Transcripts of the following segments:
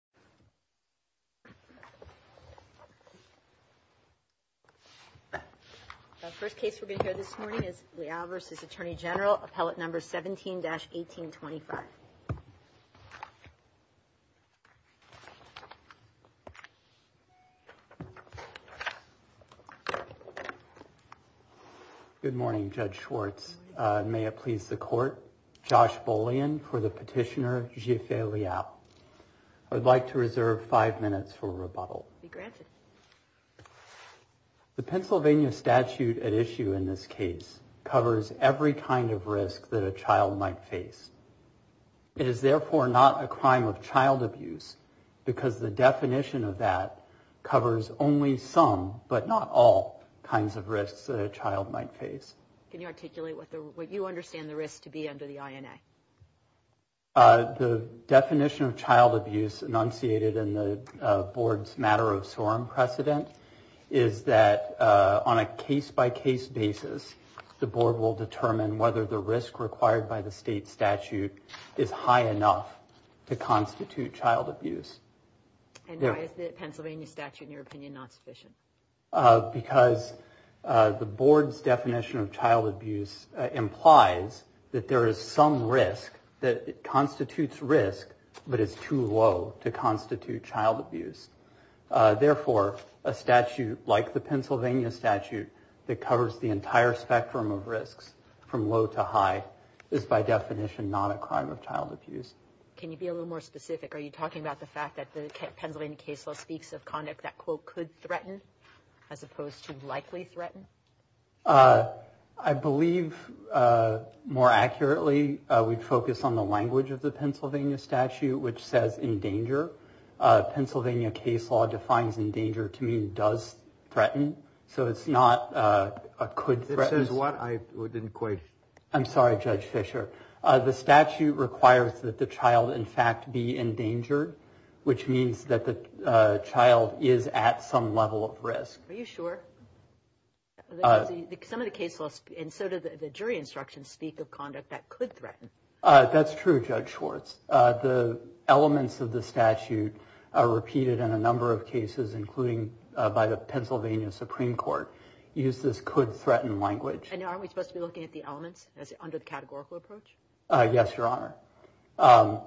Appellate No. 17-1825 Good morning, Judge Schwartz. May it please the court. My name is Josh Bolian for the petitioner, Jiefei Liao. I would like to reserve five minutes for rebuttal. Be granted. The Pennsylvania statute at issue in this case covers every kind of risk that a child might face. It is therefore not a crime of child abuse because the definition of that covers only some, but not all, kinds of risks that a child might face. Can you articulate what you understand the risk to be under the INA? The definition of child abuse enunciated in the board's matter of sorum precedent is that on a case-by-case basis, the board will determine whether the risk required by the state statute is high enough to constitute child abuse. And why is the Pennsylvania statute, in your opinion, not sufficient? Because the board's definition of child abuse implies that there is some risk that constitutes risk, but it's too low to constitute child abuse. Therefore, a statute like the Pennsylvania statute that covers the entire spectrum of risks from low to high is by definition not a crime of child abuse. Can you be a little more specific? Are you talking about the fact that the Pennsylvania case law speaks of conduct that, quote, could threaten as opposed to likely threaten? I believe more accurately we'd focus on the language of the Pennsylvania statute, which says in danger. Pennsylvania case law defines in danger to mean does threaten. So it's not a could threaten. It says what? I didn't quite. I'm sorry, Judge Fisher. The statute requires that the child, in fact, be in danger, which means that the child is at some level of risk. Are you sure? Some of the case laws, and so do the jury instructions, speak of conduct that could threaten. That's true, Judge Schwartz. The elements of the statute are repeated in a number of cases, including by the Pennsylvania Supreme Court. Use this could threaten language. Aren't we supposed to be looking at the elements as under the categorical approach? Yes, Your Honor.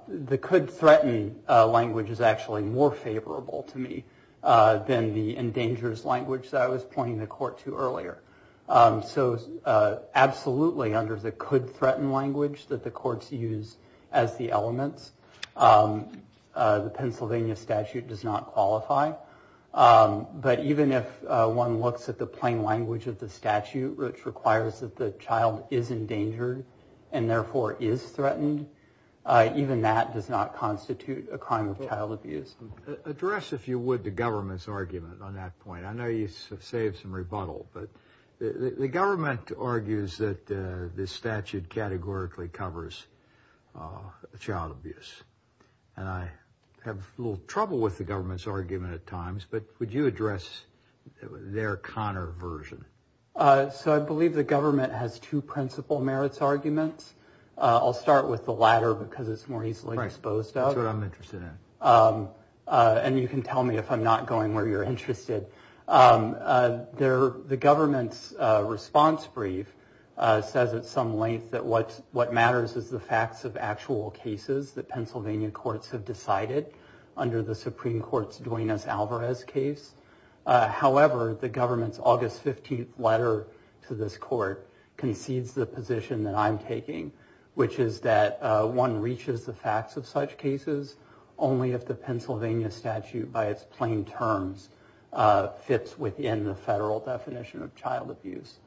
The could threaten language is actually more favorable to me than the endangers language that I was pointing the court to earlier. So absolutely, under the could threaten language that the courts use as the elements, the Pennsylvania statute does not qualify. But even if one looks at the plain language of the statute, which requires that the child is endangered and therefore is threatened, even that does not constitute a crime of child abuse. Address, if you would, the government's argument on that point. I know you saved some rebuttal, but the government argues that this statute categorically covers child abuse. And I have a little trouble with the government's argument at times, but would you address their Connor version? So I believe the government has two principal merits arguments. I'll start with the latter because it's more easily exposed. That's what I'm interested in. And you can tell me if I'm not going where you're interested. There the government's response brief says at some length that what's what matters is the facts of actual cases that Pennsylvania courts have decided. Under the Supreme Court's Duenas Alvarez case. However, the government's August 15th letter to this court concedes the position that I'm taking, which is that one reaches the facts of such cases only if the Pennsylvania statute by its plain terms fits within the federal definition of child abuse.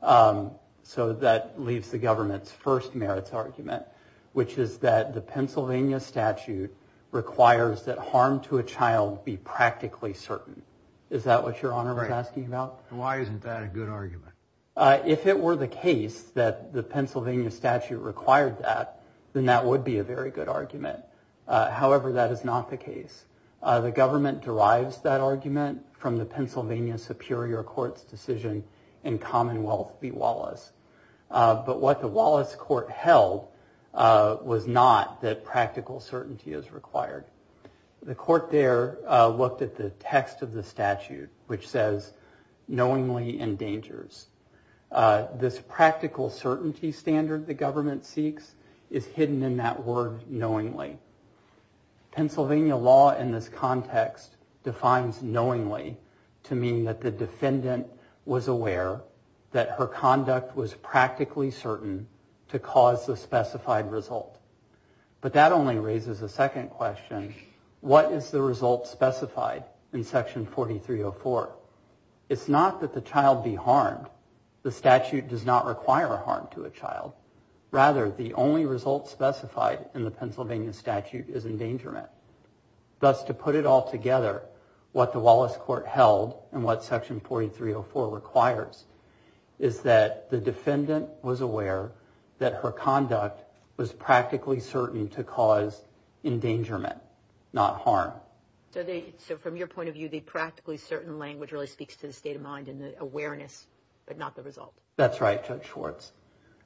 So that leaves the government's first merits argument, which is that the Pennsylvania statute requires that harm to a child be practically certain. Is that what you're asking about? Why isn't that a good argument? If it were the case that the Pennsylvania statute required that, then that would be a very good argument. However, that is not the case. The government derives that argument from the Pennsylvania Superior Court's decision in Commonwealth v. Wallace. But what the Wallace court held was not that practical certainty is required. The court there looked at the text of the statute, which says knowingly endangers this practical certainty standard. The government seeks is hidden in that word knowingly. Pennsylvania law in this context defines knowingly to mean that the defendant was aware that her conduct was practically certain to cause a specified result. But that only raises a second question. What is the result specified in Section 4304? It's not that the child be harmed. The statute does not require harm to a child. Rather, the only result specified in the Pennsylvania statute is endangerment. Thus, to put it all together, what the Wallace court held and what Section 4304 requires is that the defendant was aware that her conduct was practically certain to cause endangerment, not harm. So from your point of view, the practically certain language really speaks to the state of mind and the awareness, but not the result. That's right, Judge Schwartz.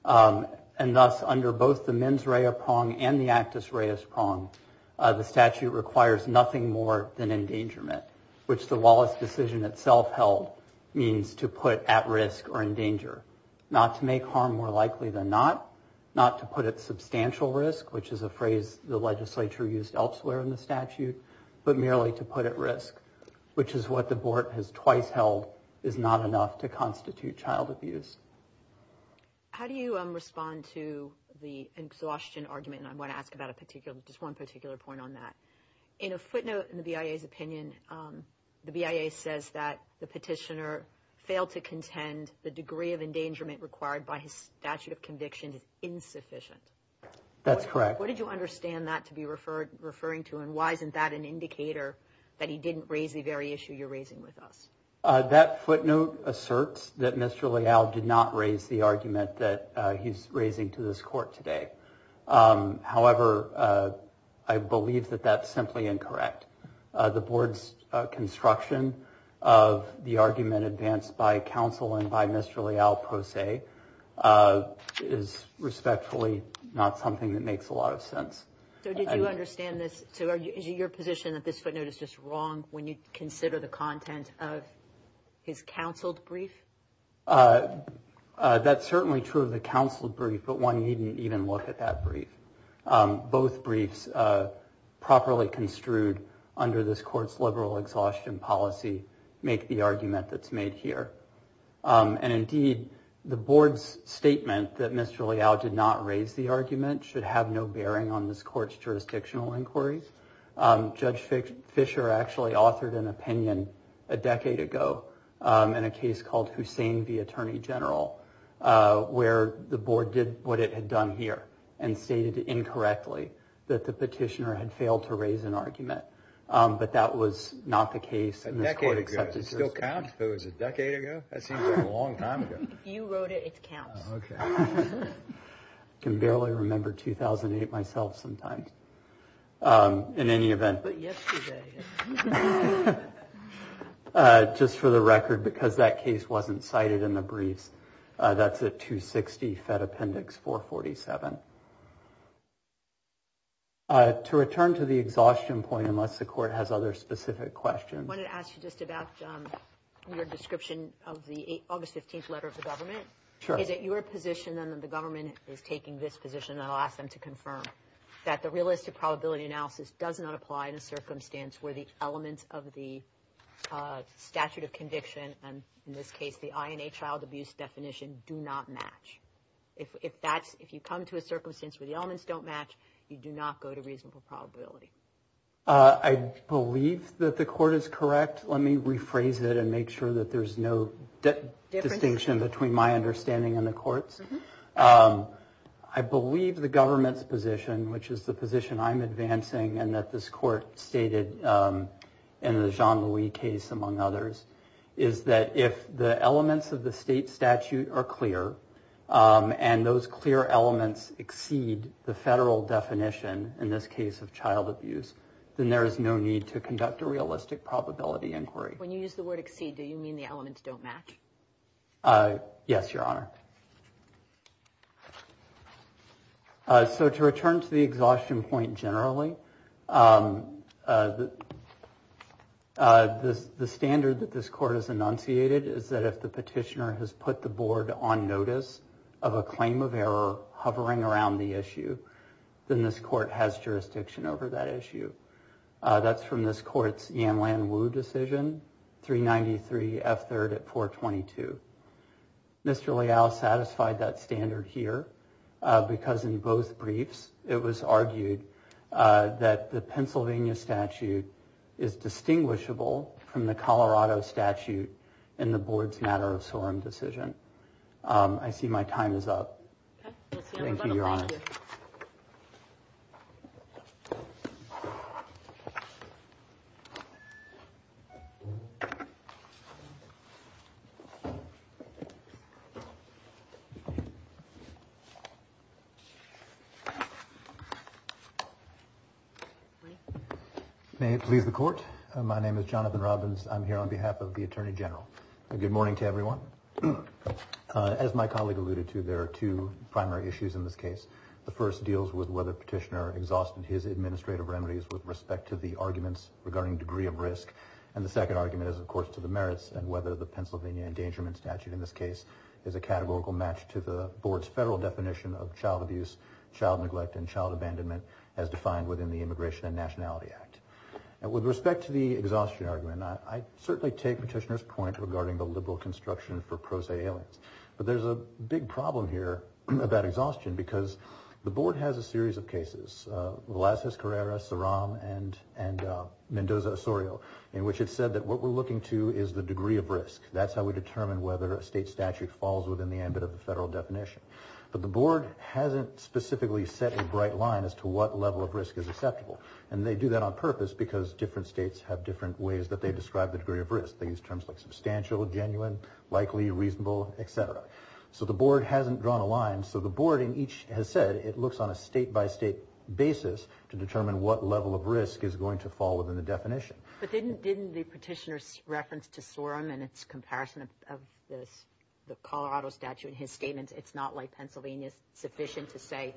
And thus, under both the mens rea prong and the actus reus prong, the statute requires nothing more than endangerment, which the Wallace decision itself held means to put at risk or in danger, not to make harm more likely than not, not to put it substantial risk, which is a phrase the legislature used elsewhere in the statute, but merely to put at risk, which is what the board has twice held is not enough to constitute child abuse. How do you respond to the exhaustion argument? And I want to ask about a particular just one particular point on that. In a footnote in the BIA's opinion, the BIA says that the petitioner failed to contend the degree of endangerment required by his statute of conviction is insufficient. That's correct. What did you understand that to be referred referring to? And why isn't that an indicator that he didn't raise the very issue you're raising with us? That footnote asserts that Mr. Leal did not raise the argument that he's raising to this court today. However, I believe that that's simply incorrect. The board's construction of the argument advanced by counsel and by Mr. Leal, per se, is respectfully not something that makes a lot of sense. So did you understand this? Is it your position that this footnote is just wrong when you consider the content of his counseled brief? That's certainly true of the counseled brief, but one needn't even look at that brief. Both briefs properly construed under this court's liberal exhaustion policy make the argument that's made here. And indeed, the board's statement that Mr. Leal did not raise the argument should have no bearing on this court's jurisdictional inquiries. Judge Fisher actually authored an opinion a decade ago in a case called Hussain v. Attorney General, where the board did what it had done here, and stated incorrectly that the petitioner had failed to raise an argument. But that was not the case. A decade ago? Does it still count? Was it a decade ago? That seems like a long time ago. If you wrote it, it counts. I can barely remember 2008 myself sometimes, in any event. But yesterday. Just for the record, because that case wasn't cited in the briefs, that's a 260 Fed Appendix 447. To return to the exhaustion point, unless the court has other specific questions. I wanted to ask you just about your description of the August 15th letter of the government. Sure. Is it your position, then, that the government is taking this position, and I'll ask them to confirm, that the realistic probability analysis does not apply in a circumstance where the elements of the statute of conviction, and in this case the INA child abuse definition, do not match. If you come to a circumstance where the elements don't match, you do not go to reasonable probability. I believe that the court is correct. Let me rephrase it and make sure that there's no distinction between my understanding and the court's. I believe the government's position, which is the position I'm advancing, and that this court stated in the Jean-Louis case, among others, is that if the elements of the state statute are clear, and those clear elements exceed the federal definition, in this case of child abuse, then there is no need to conduct a realistic probability inquiry. When you use the word exceed, do you mean the elements don't match? Yes, Your Honor. So to return to the exhaustion point generally, the standard that this court has enunciated is that if the petitioner has put the board on notice of a claim of error hovering around the issue, then this court has jurisdiction over that issue. That's from this court's Yan-Lan Wu decision, 393 F3rd at 422. Mr. Leal satisfied that standard here, because in both briefs it was argued that the Pennsylvania statute is distinguishable from the Colorado statute in the board's matter of sorum decision. I see my time is up. Thank you, Your Honor. Thank you. May it please the Court. My name is Jonathan Robbins. I'm here on behalf of the Attorney General. Good morning to everyone. As my colleague alluded to, there are two primary issues in this case. The first deals with whether Petitioner exhausted his administrative remedies with respect to the arguments regarding degree of risk, and the second argument is, of course, to the merits and whether the Pennsylvania endangerment statute in this case is a categorical match to the board's federal definition of child abuse, child neglect, and child abandonment as defined within the Immigration and Nationality Act. With respect to the exhaustion argument, I certainly take Petitioner's point regarding the liberal construction for pro se aliens, but there's a big problem here about exhaustion, because the board has a series of cases, Velazquez-Carrera, Saram, and Mendoza-Osorio, in which it said that what we're looking to is the degree of risk. That's how we determine whether a state statute falls within the ambit of the federal definition. But the board hasn't specifically set a bright line as to what level of risk is acceptable, and they do that on purpose because different states have different ways that they describe the degree of risk. They use terms like substantial, genuine, likely, reasonable, et cetera. So the board hasn't drawn a line. So the board in each has said it looks on a state-by-state basis to determine what level of risk is going to fall within the definition. But didn't the petitioner's reference to Sorum and its comparison of the Colorado statute in his statements, it's not like Pennsylvania is sufficient to say,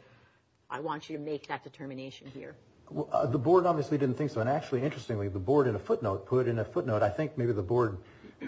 I want you to make that determination here? The board obviously didn't think so. And actually, interestingly, the board, in a footnote, put in a footnote, I think maybe the board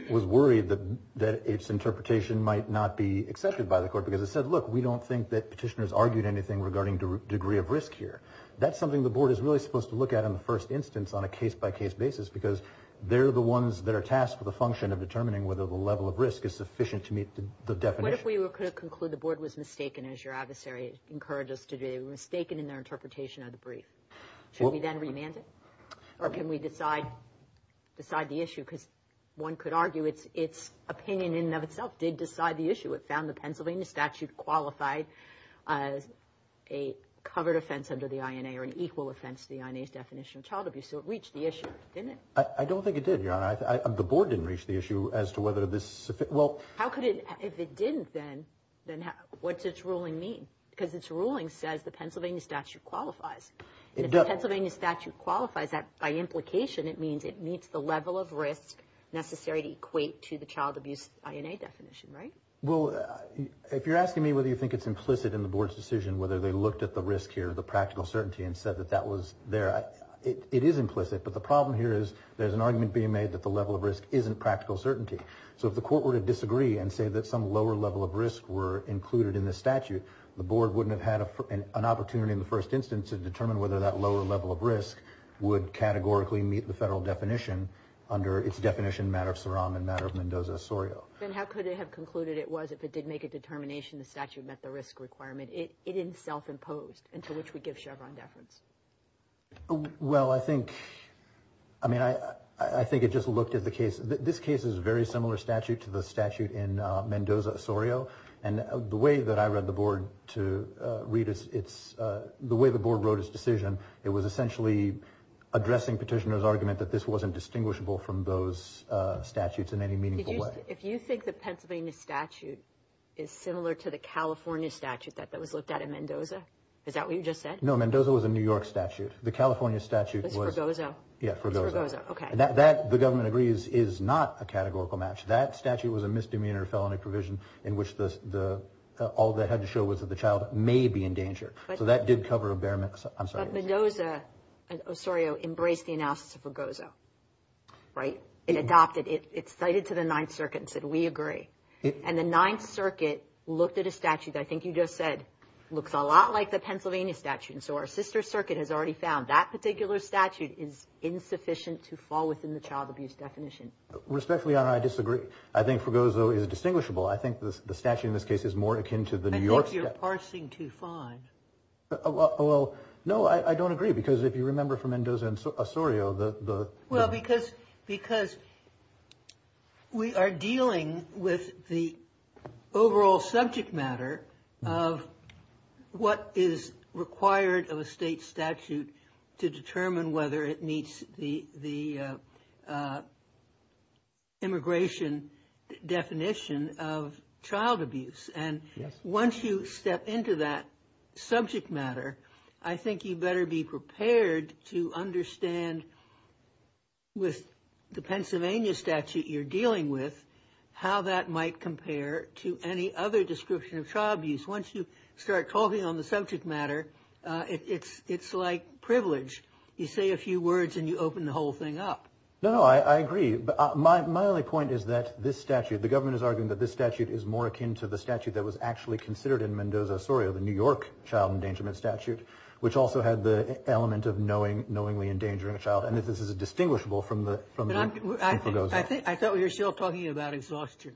was worried that its interpretation might not be accepted by the court, because it said, look, we don't think that petitioners argued anything regarding degree of risk here. That's something the board is really supposed to look at in the first instance on a case-by-case basis because they're the ones that are tasked with the function of determining whether the level of risk is sufficient to meet the definition. What if we could conclude the board was mistaken, as your adversary encouraged us to do? They were mistaken in their interpretation of the brief. Should we then remand it? Or can we decide the issue? Because one could argue its opinion in and of itself did decide the issue. It found the Pennsylvania statute qualified a covered offense under the INA or an equal offense to the INA's definition of child abuse. So it reached the issue, didn't it? I don't think it did, Your Honor. The board didn't reach the issue as to whether this is sufficient. How could it? If it didn't, then what's its ruling mean? Because its ruling says the Pennsylvania statute qualifies. If the Pennsylvania statute qualifies, by implication it means it meets the level of risk necessary to equate to the child abuse INA definition, right? Well, if you're asking me whether you think it's implicit in the board's decision whether they looked at the risk here, the practical certainty, and said that that was there, it is implicit. But the problem here is there's an argument being made that the level of risk isn't practical certainty. So if the court were to disagree and say that some lower level of risk were included in the statute, the board wouldn't have had an opportunity in the first instance to determine whether that lower level of risk would categorically meet the federal definition under its definition matter of SOROM and matter of Mendoza-Osorio. Then how could it have concluded it was if it did make a determination the statute met the risk requirement? It is self-imposed, and to which we give Chevron deference. Well, I think it just looked at the case. This case is a very similar statute to the statute in Mendoza-Osorio. And the way that I read the board to read it, the way the board wrote its decision, it was essentially addressing Petitioner's argument that this wasn't distinguishable from those statutes in any meaningful way. But if you think the Pennsylvania statute is similar to the California statute that was looked at in Mendoza, is that what you just said? No, Mendoza was a New York statute. The California statute was – It was for Gozo. Yeah, for Gozo. It was for Gozo. Okay. The government agrees it is not a categorical match. That statute was a misdemeanor felony provision in which all they had to show was that the child may be in danger. So that did cover a bare – I'm sorry. But Mendoza-Osorio embraced the analysis of Gozo, right? It adopted – it cited to the Ninth Circuit and said, we agree. And the Ninth Circuit looked at a statute that I think you just said looks a lot like the Pennsylvania statute. And so our sister circuit has already found that particular statute is insufficient to fall within the child abuse definition. Respectfully, Your Honor, I disagree. I think for Gozo it is distinguishable. I think the statute in this case is more akin to the New York statute. I think you're parsing too fine. Well, no, I don't agree because if you remember from Mendoza-Osorio, the – Well, because we are dealing with the overall subject matter of what is required of a state statute to determine whether it meets the immigration definition of child abuse. And once you step into that subject matter, I think you better be prepared to understand with the Pennsylvania statute you're dealing with how that might compare to any other description of child abuse. Once you start talking on the subject matter, it's like privilege. You say a few words and you open the whole thing up. No, no, I agree. My only point is that this statute, the government is arguing that this statute is more akin to the statute that was actually considered in Mendoza-Osorio, the New York child endangerment statute, which also had the element of knowingly endangering a child. And this is distinguishable from the Gozo. I thought we were still talking about exhaustion.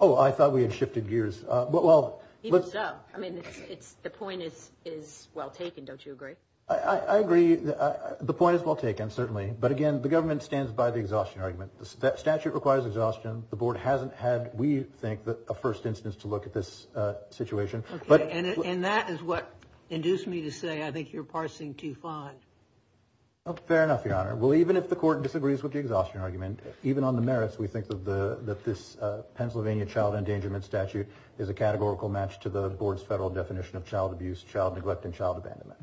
Oh, I thought we had shifted gears. Even so, I mean, the point is well taken. Don't you agree? I agree. The point is well taken, certainly. But, again, the government stands by the exhaustion argument. The statute requires exhaustion. The board hasn't had, we think, a first instance to look at this situation. Okay. And that is what induced me to say I think you're parsing too fine. Fair enough, Your Honor. Well, even if the court disagrees with the exhaustion argument, even on the merits, we think that this Pennsylvania child endangerment statute is a categorical match to the board's federal definition of child abuse, child neglect, and child abandonment.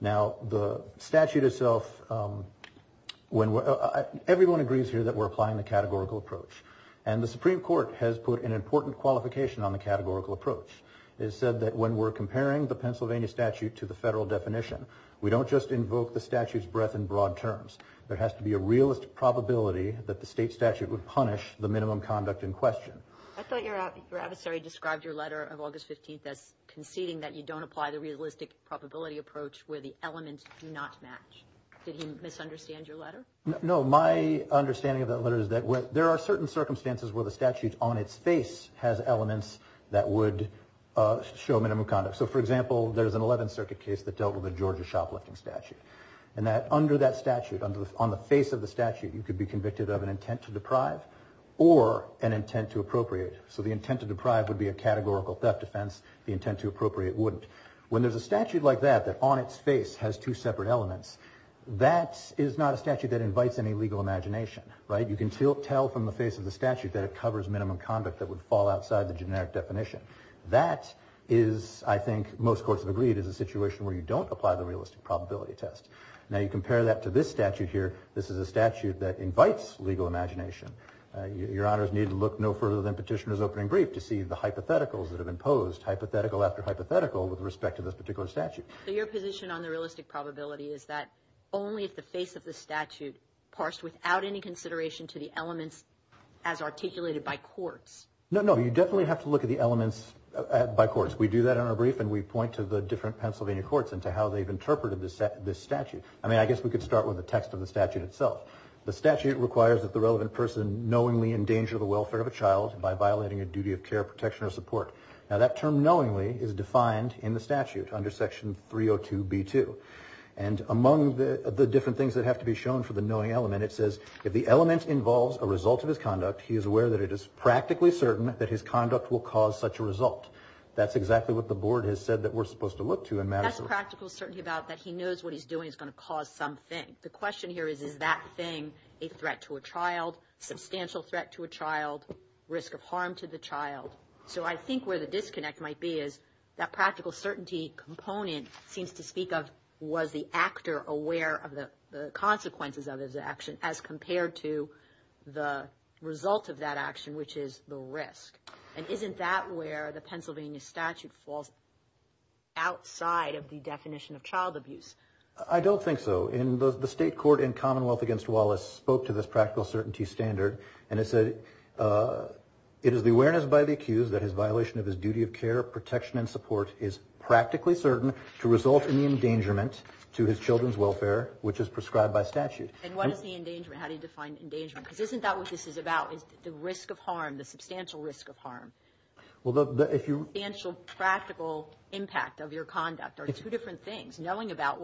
Now, the statute itself, everyone agrees here that we're applying the categorical approach. And the Supreme Court has put an important qualification on the categorical approach. It said that when we're comparing the Pennsylvania statute to the federal definition, we don't just invoke the statute's breadth and broad terms. There has to be a realistic probability that the state statute would punish the minimum conduct in question. I thought your adversary described your letter of August 15th as conceding that you don't apply the realistic probability approach where the elements do not match. Did he misunderstand your letter? No. My understanding of that letter is that there are certain circumstances where the statute, on its face, has elements that would show minimum conduct. So, for example, there's an 11th Circuit case that dealt with a Georgia shoplifting statute, and that under that statute, on the face of the statute, you could be convicted of an intent to deprive or an intent to appropriate. So the intent to deprive would be a categorical theft offense. The intent to appropriate wouldn't. When there's a statute like that, that on its face has two separate elements, that is not a statute that invites any legal imagination, right? You can tell from the face of the statute that it covers minimum conduct that would fall outside the generic definition. That is, I think most courts have agreed, is a situation where you don't apply the realistic probability test. Now, you compare that to this statute here. This is a statute that invites legal imagination. Your honors need to look no further than Petitioner's opening brief to see the hypotheticals that have been posed, hypothetical after hypothetical, with respect to this particular statute. So your position on the realistic probability is that only if the face of the statute parsed without any consideration to the elements as articulated by courts. No, no. You definitely have to look at the elements by courts. We do that in our brief, and we point to the different Pennsylvania courts and to how they've interpreted this statute. I mean, I guess we could start with the text of the statute itself. The statute requires that the relevant person knowingly endanger the welfare of a child by violating a duty of care, protection, or support. Now, that term knowingly is defined in the statute under Section 302b2. And among the different things that have to be shown for the knowing element, it says if the element involves a result of his conduct, he is aware that it is practically certain that his conduct will cause such a result. That's exactly what the board has said that we're supposed to look to in matters of the court. He's certain about that he knows what he's doing is going to cause something. The question here is, is that thing a threat to a child, substantial threat to a child, risk of harm to the child? So I think where the disconnect might be is that practical certainty component seems to speak of was the actor aware of the consequences of his action as compared to the result of that action, which is the risk. And isn't that where the Pennsylvania statute falls outside of the definition of child abuse? I don't think so. The state court in Commonwealth against Wallace spoke to this practical certainty standard, and it said it is the awareness by the accused that his violation of his duty of care, protection, and support is practically certain to result in the endangerment to his children's welfare, which is prescribed by statute. And what is the endangerment? How do you define endangerment? Because isn't that what this is about is the risk of harm, the substantial risk of harm? The substantial practical impact of your conduct are two different things. Knowing about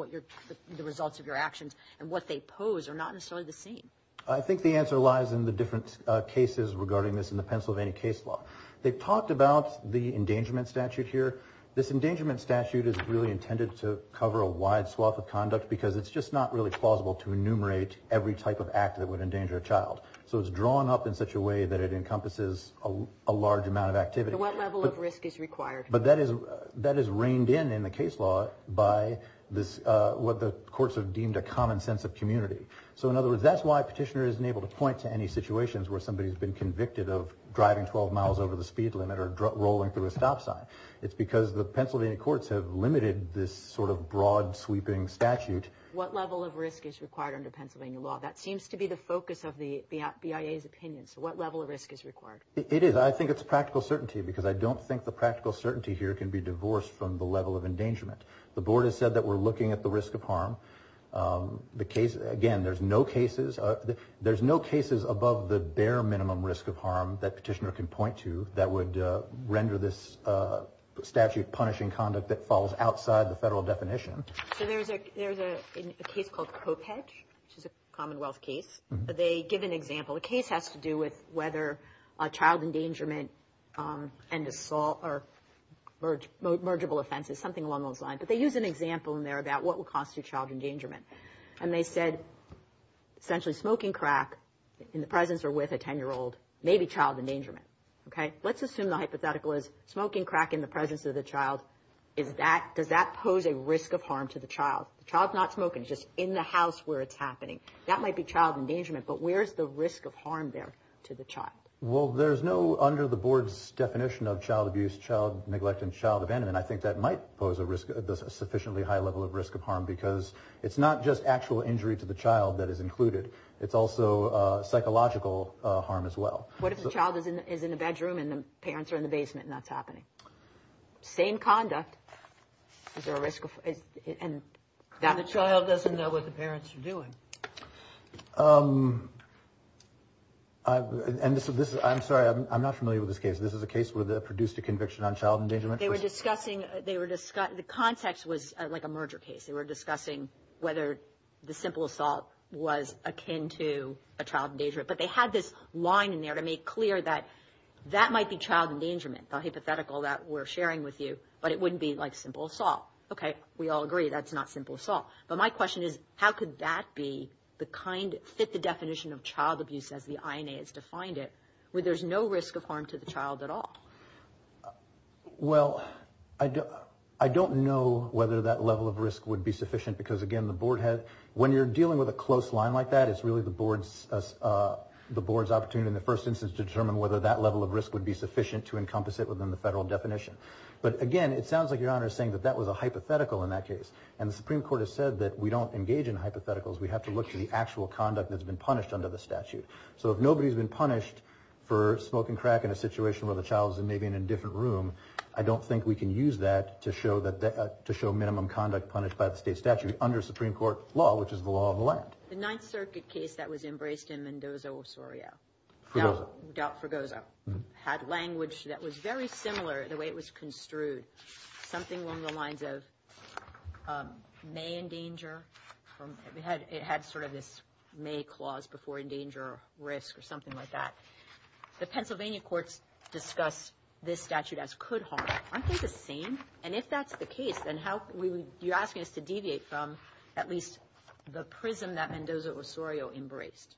the results of your actions and what they pose are not necessarily the same. I think the answer lies in the different cases regarding this in the Pennsylvania case law. They've talked about the endangerment statute here. This endangerment statute is really intended to cover a wide swath of conduct because it's just not really plausible to enumerate every type of act that would endanger a child. So it's drawn up in such a way that it encompasses a large amount of activity. So what level of risk is required? But that is reined in in the case law by what the courts have deemed a common sense of community. So, in other words, that's why a petitioner isn't able to point to any situations where somebody has been convicted of driving 12 miles over the speed limit or rolling through a stop sign. It's because the Pennsylvania courts have limited this sort of broad sweeping statute. What level of risk is required under Pennsylvania law? That seems to be the focus of the BIA's opinion. So what level of risk is required? It is. I think it's practical certainty because I don't think the practical certainty here can be divorced from the level of endangerment. The board has said that we're looking at the risk of harm. Again, there's no cases above the bare minimum risk of harm that petitioner can point to that would render this statute punishing conduct that falls outside the federal definition. So there's a case called Kopech, which is a Commonwealth case. They give an example. The case has to do with whether a child endangerment and assault or mergible offenses, something along those lines. But they use an example in there about what will constitute child endangerment. And they said essentially smoking crack in the presence or with a 10-year-old may be child endangerment. Let's assume the hypothetical is smoking crack in the presence of the child. Does that pose a risk of harm to the child? The child's not smoking. It's just in the house where it's happening. That might be child endangerment. But where's the risk of harm there to the child? Well, there's no under the board's definition of child abuse, child neglect, and child abandonment. I think that might pose a sufficiently high level of risk of harm because it's not just actual injury to the child that is included. It's also psychological harm as well. What if the child is in the bedroom and the parents are in the basement and that's happening? Same conduct. Is there a risk? The child doesn't know what the parents are doing. I'm sorry. I'm not familiar with this case. This is a case where they produced a conviction on child endangerment. They were discussing. The context was like a merger case. They were discussing whether the simple assault was akin to a child endangerment. But they had this line in there to make clear that that might be child endangerment, the hypothetical that we're sharing with you. But it wouldn't be like simple assault. Okay. We all agree that's not simple assault. But my question is how could that be the kind, fit the definition of child abuse as the INA has defined it, where there's no risk of harm to the child at all? When you're dealing with a close line like that, it's really the board's opportunity in the first instance to determine whether that level of risk would be sufficient to encompass it within the federal definition. But, again, it sounds like Your Honor is saying that that was a hypothetical in that case. And the Supreme Court has said that we don't engage in hypotheticals. We have to look to the actual conduct that's been punished under the statute. So if nobody's been punished for smoking crack in a situation where the child is maybe in a different room, I don't think we can use that to show minimum conduct punished by the state statute under Supreme Court law, which is the law of the land. The Ninth Circuit case that was embraced in Mendoza-Osorio. Fugoso. Fugoso. Had language that was very similar the way it was construed. Something along the lines of may endanger. It had sort of this may clause before endanger risk or something like that. The Pennsylvania courts discuss this statute as could harm. Aren't they the same? And if that's the case, then you're asking us to deviate from at least the prism that Mendoza-Osorio embraced.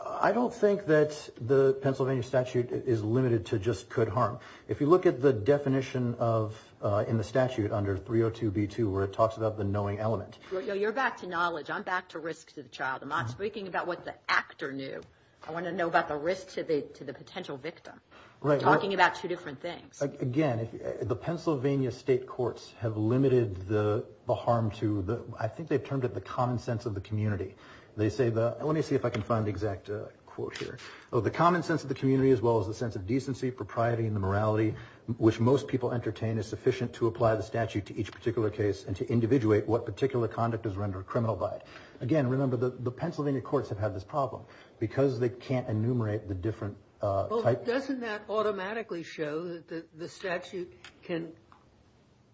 I don't think that the Pennsylvania statute is limited to just could harm. If you look at the definition in the statute under 302b2 where it talks about the knowing element. You're back to knowledge. I'm back to risk to the child. I'm not speaking about what the actor knew. I want to know about the risk to the potential victim. You're talking about two different things. Again, the Pennsylvania state courts have limited the harm to, I think they've termed it the common sense of the community. They say, let me see if I can find the exact quote here. The common sense of the community as well as the sense of decency, propriety, and morality, which most people entertain is sufficient to apply the statute to each particular case and to individuate what particular conduct is rendered criminal by it. Again, remember, the Pennsylvania courts have had this problem. Because they can't enumerate the different types. Doesn't that automatically show that the statute can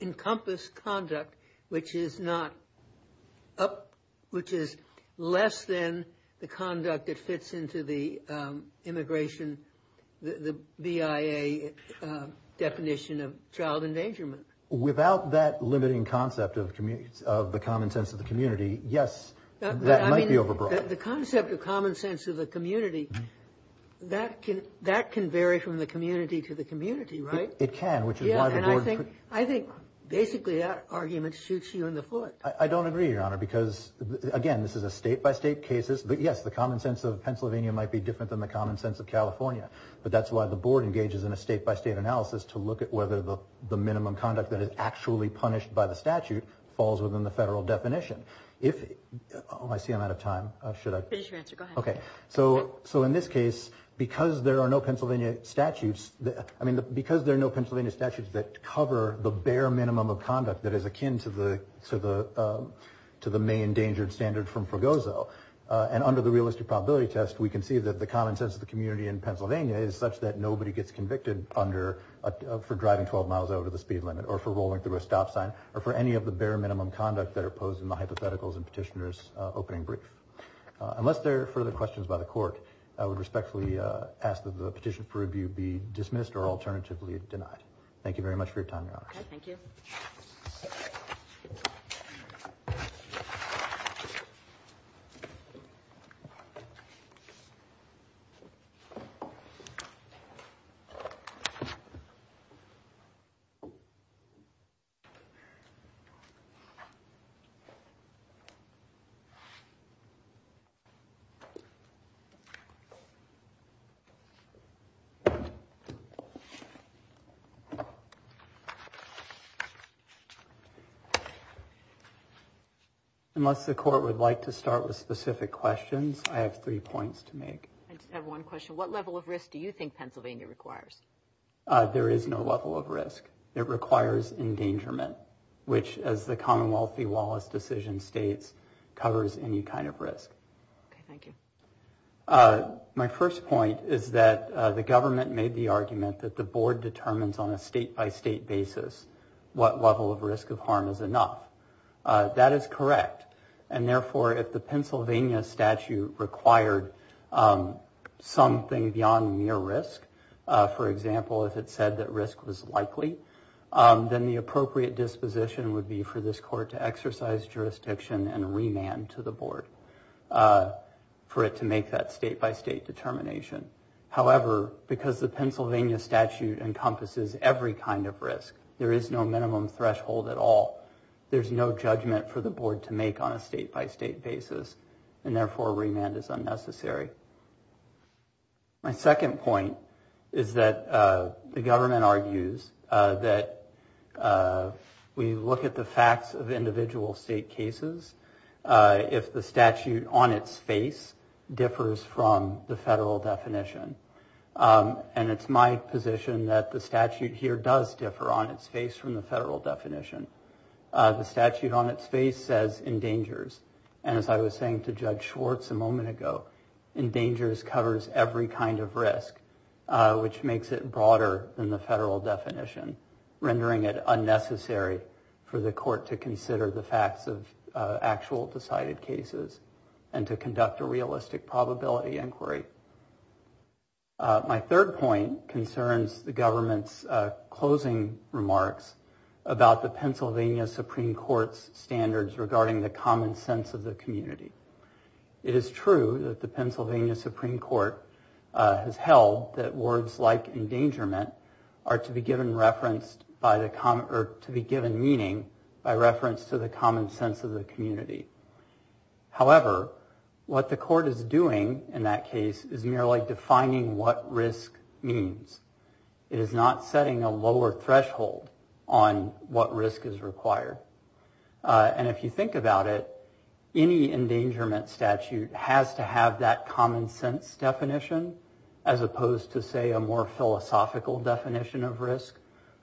encompass conduct, which is less than the conduct that fits into the immigration, the BIA definition of child endangerment? Without that limiting concept of the common sense of the community, yes, that might be overbroad. The concept of common sense of the community, that can vary from the community to the community, right? It can. I think basically that argument shoots you in the foot. I don't agree, Your Honor, because, again, this is a state-by-state case. Yes, the common sense of Pennsylvania might be different than the common sense of California. But that's why the board engages in a state-by-state analysis to look at whether the minimum conduct that is actually punished by the statute falls within the federal definition. Oh, I see I'm out of time. Finish your answer. Go ahead. Okay. So in this case, because there are no Pennsylvania statutes that cover the bare minimum of conduct that is akin to the main endangered standard from Fregoso, and under the realistic probability test, we can see that the common sense of the community in Pennsylvania is such that nobody gets convicted for driving 12 miles over the speed limit or for rolling through a stop sign or for any of the bare minimum conduct that are posed in the hypotheticals and petitioner's opening brief. Unless there are further questions by the court, I would respectfully ask that the petition for review be dismissed or alternatively denied. Thank you very much for your time, Your Honor. Thank you. Thank you. Unless the court would like to start with specific questions, I have three points to make. I just have one question. What level of risk do you think Pennsylvania requires? There is no level of risk. It requires endangerment, which, as the Commonwealth v. Wallace decision states, covers any kind of risk. Okay. Thank you. My first point is that the government made the argument that the board determines on a state-by-state basis what level of risk of harm is enough. That is correct. And therefore, if the Pennsylvania statute required something beyond mere risk, for example, if it said that risk was likely, then the appropriate disposition would be for this court to exercise jurisdiction and remand to the board for it to make that state-by-state determination. However, because the Pennsylvania statute encompasses every kind of risk, there is no minimum threshold at all. There is no judgment for the board to make on a state-by-state basis, and therefore remand is unnecessary. My second point is that the government argues that we look at the facts of individual state cases if the statute on its face differs from the federal definition. And it's my position that the statute here does differ on its face from the federal definition. The statute on its face says endangers. And as I was saying to Judge Schwartz a moment ago, endangers covers every kind of risk, which makes it broader than the federal definition, rendering it unnecessary for the court to consider the facts of actual decided cases and to conduct a realistic probability inquiry. My third point concerns the government's closing remarks about the Pennsylvania Supreme Court's standards regarding the common sense of the community. It is true that the Pennsylvania Supreme Court has held that words like endangerment are to be given meaning by reference to the common sense of the community. However, what the court is doing in that case is merely defining what risk means. It is not setting a lower threshold on what risk is required. And if you think about it, any endangerment statute has to have that common sense definition as opposed to, say, a more philosophical definition of risk,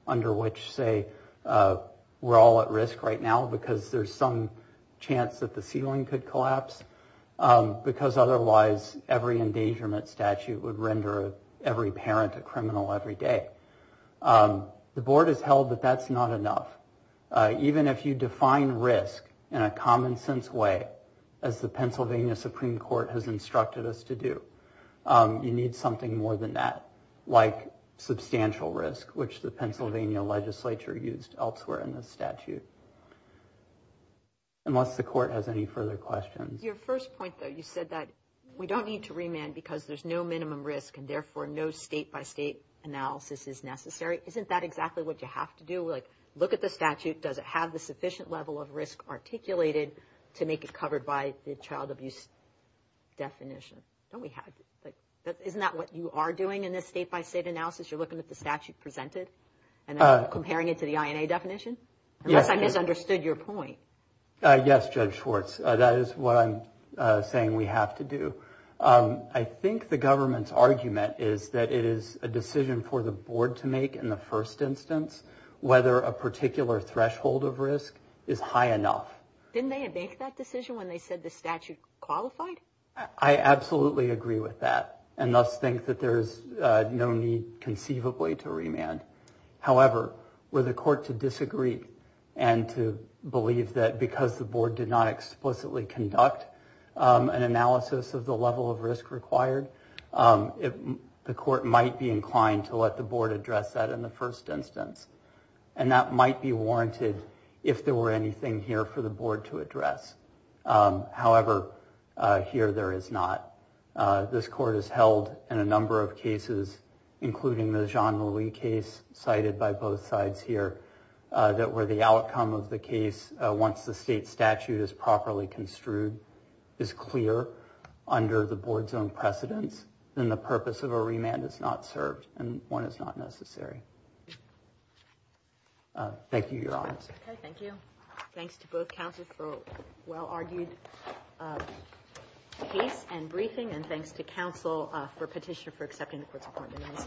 under which, say, we're all at risk right now because there's some chance that the ceiling could collapse, because otherwise every endangerment statute would render every parent a criminal every day. The board has held that that's not enough. Even if you define risk in a common sense way, as the Pennsylvania Supreme Court has instructed us to do, you need something more than that, like substantial risk, which the Pennsylvania legislature used elsewhere in this statute. Unless the court has any further questions. Your first point, though, you said that we don't need to remand because there's no minimum risk and therefore no state-by-state analysis is necessary. Isn't that exactly what you have to do? Like, look at the statute. Does it have the sufficient level of risk articulated to make it covered by the child abuse definition? Don't we have to? Isn't that what you are doing in this state-by-state analysis? You're looking at the statute presented and comparing it to the INA definition? Unless I misunderstood your point. Yes, Judge Schwartz. That is what I'm saying we have to do. I think the government's argument is that it is a decision for the board to make in the first instance whether a particular threshold of risk is high enough. Didn't they make that decision when they said the statute qualified? I absolutely agree with that and thus think that there is no need conceivably to remand. However, were the court to disagree and to believe that because the board did not explicitly conduct an analysis of the level of risk required, the court might be inclined to let the board address that in the first instance. And that might be warranted if there were anything here for the board to address. However, here there is not. This court has held in a number of cases, including the Jean-Louis case cited by both sides here, that where the outcome of the case, once the state statute is properly construed, is clear under the board's own precedence, then the purpose of a remand is not served and one is not necessary. Thank you, Your Honors. Okay, thank you. Thanks to both counsels for a well-argued case and briefing and thanks to counsel for petitioner for accepting the court's appointment on this matter.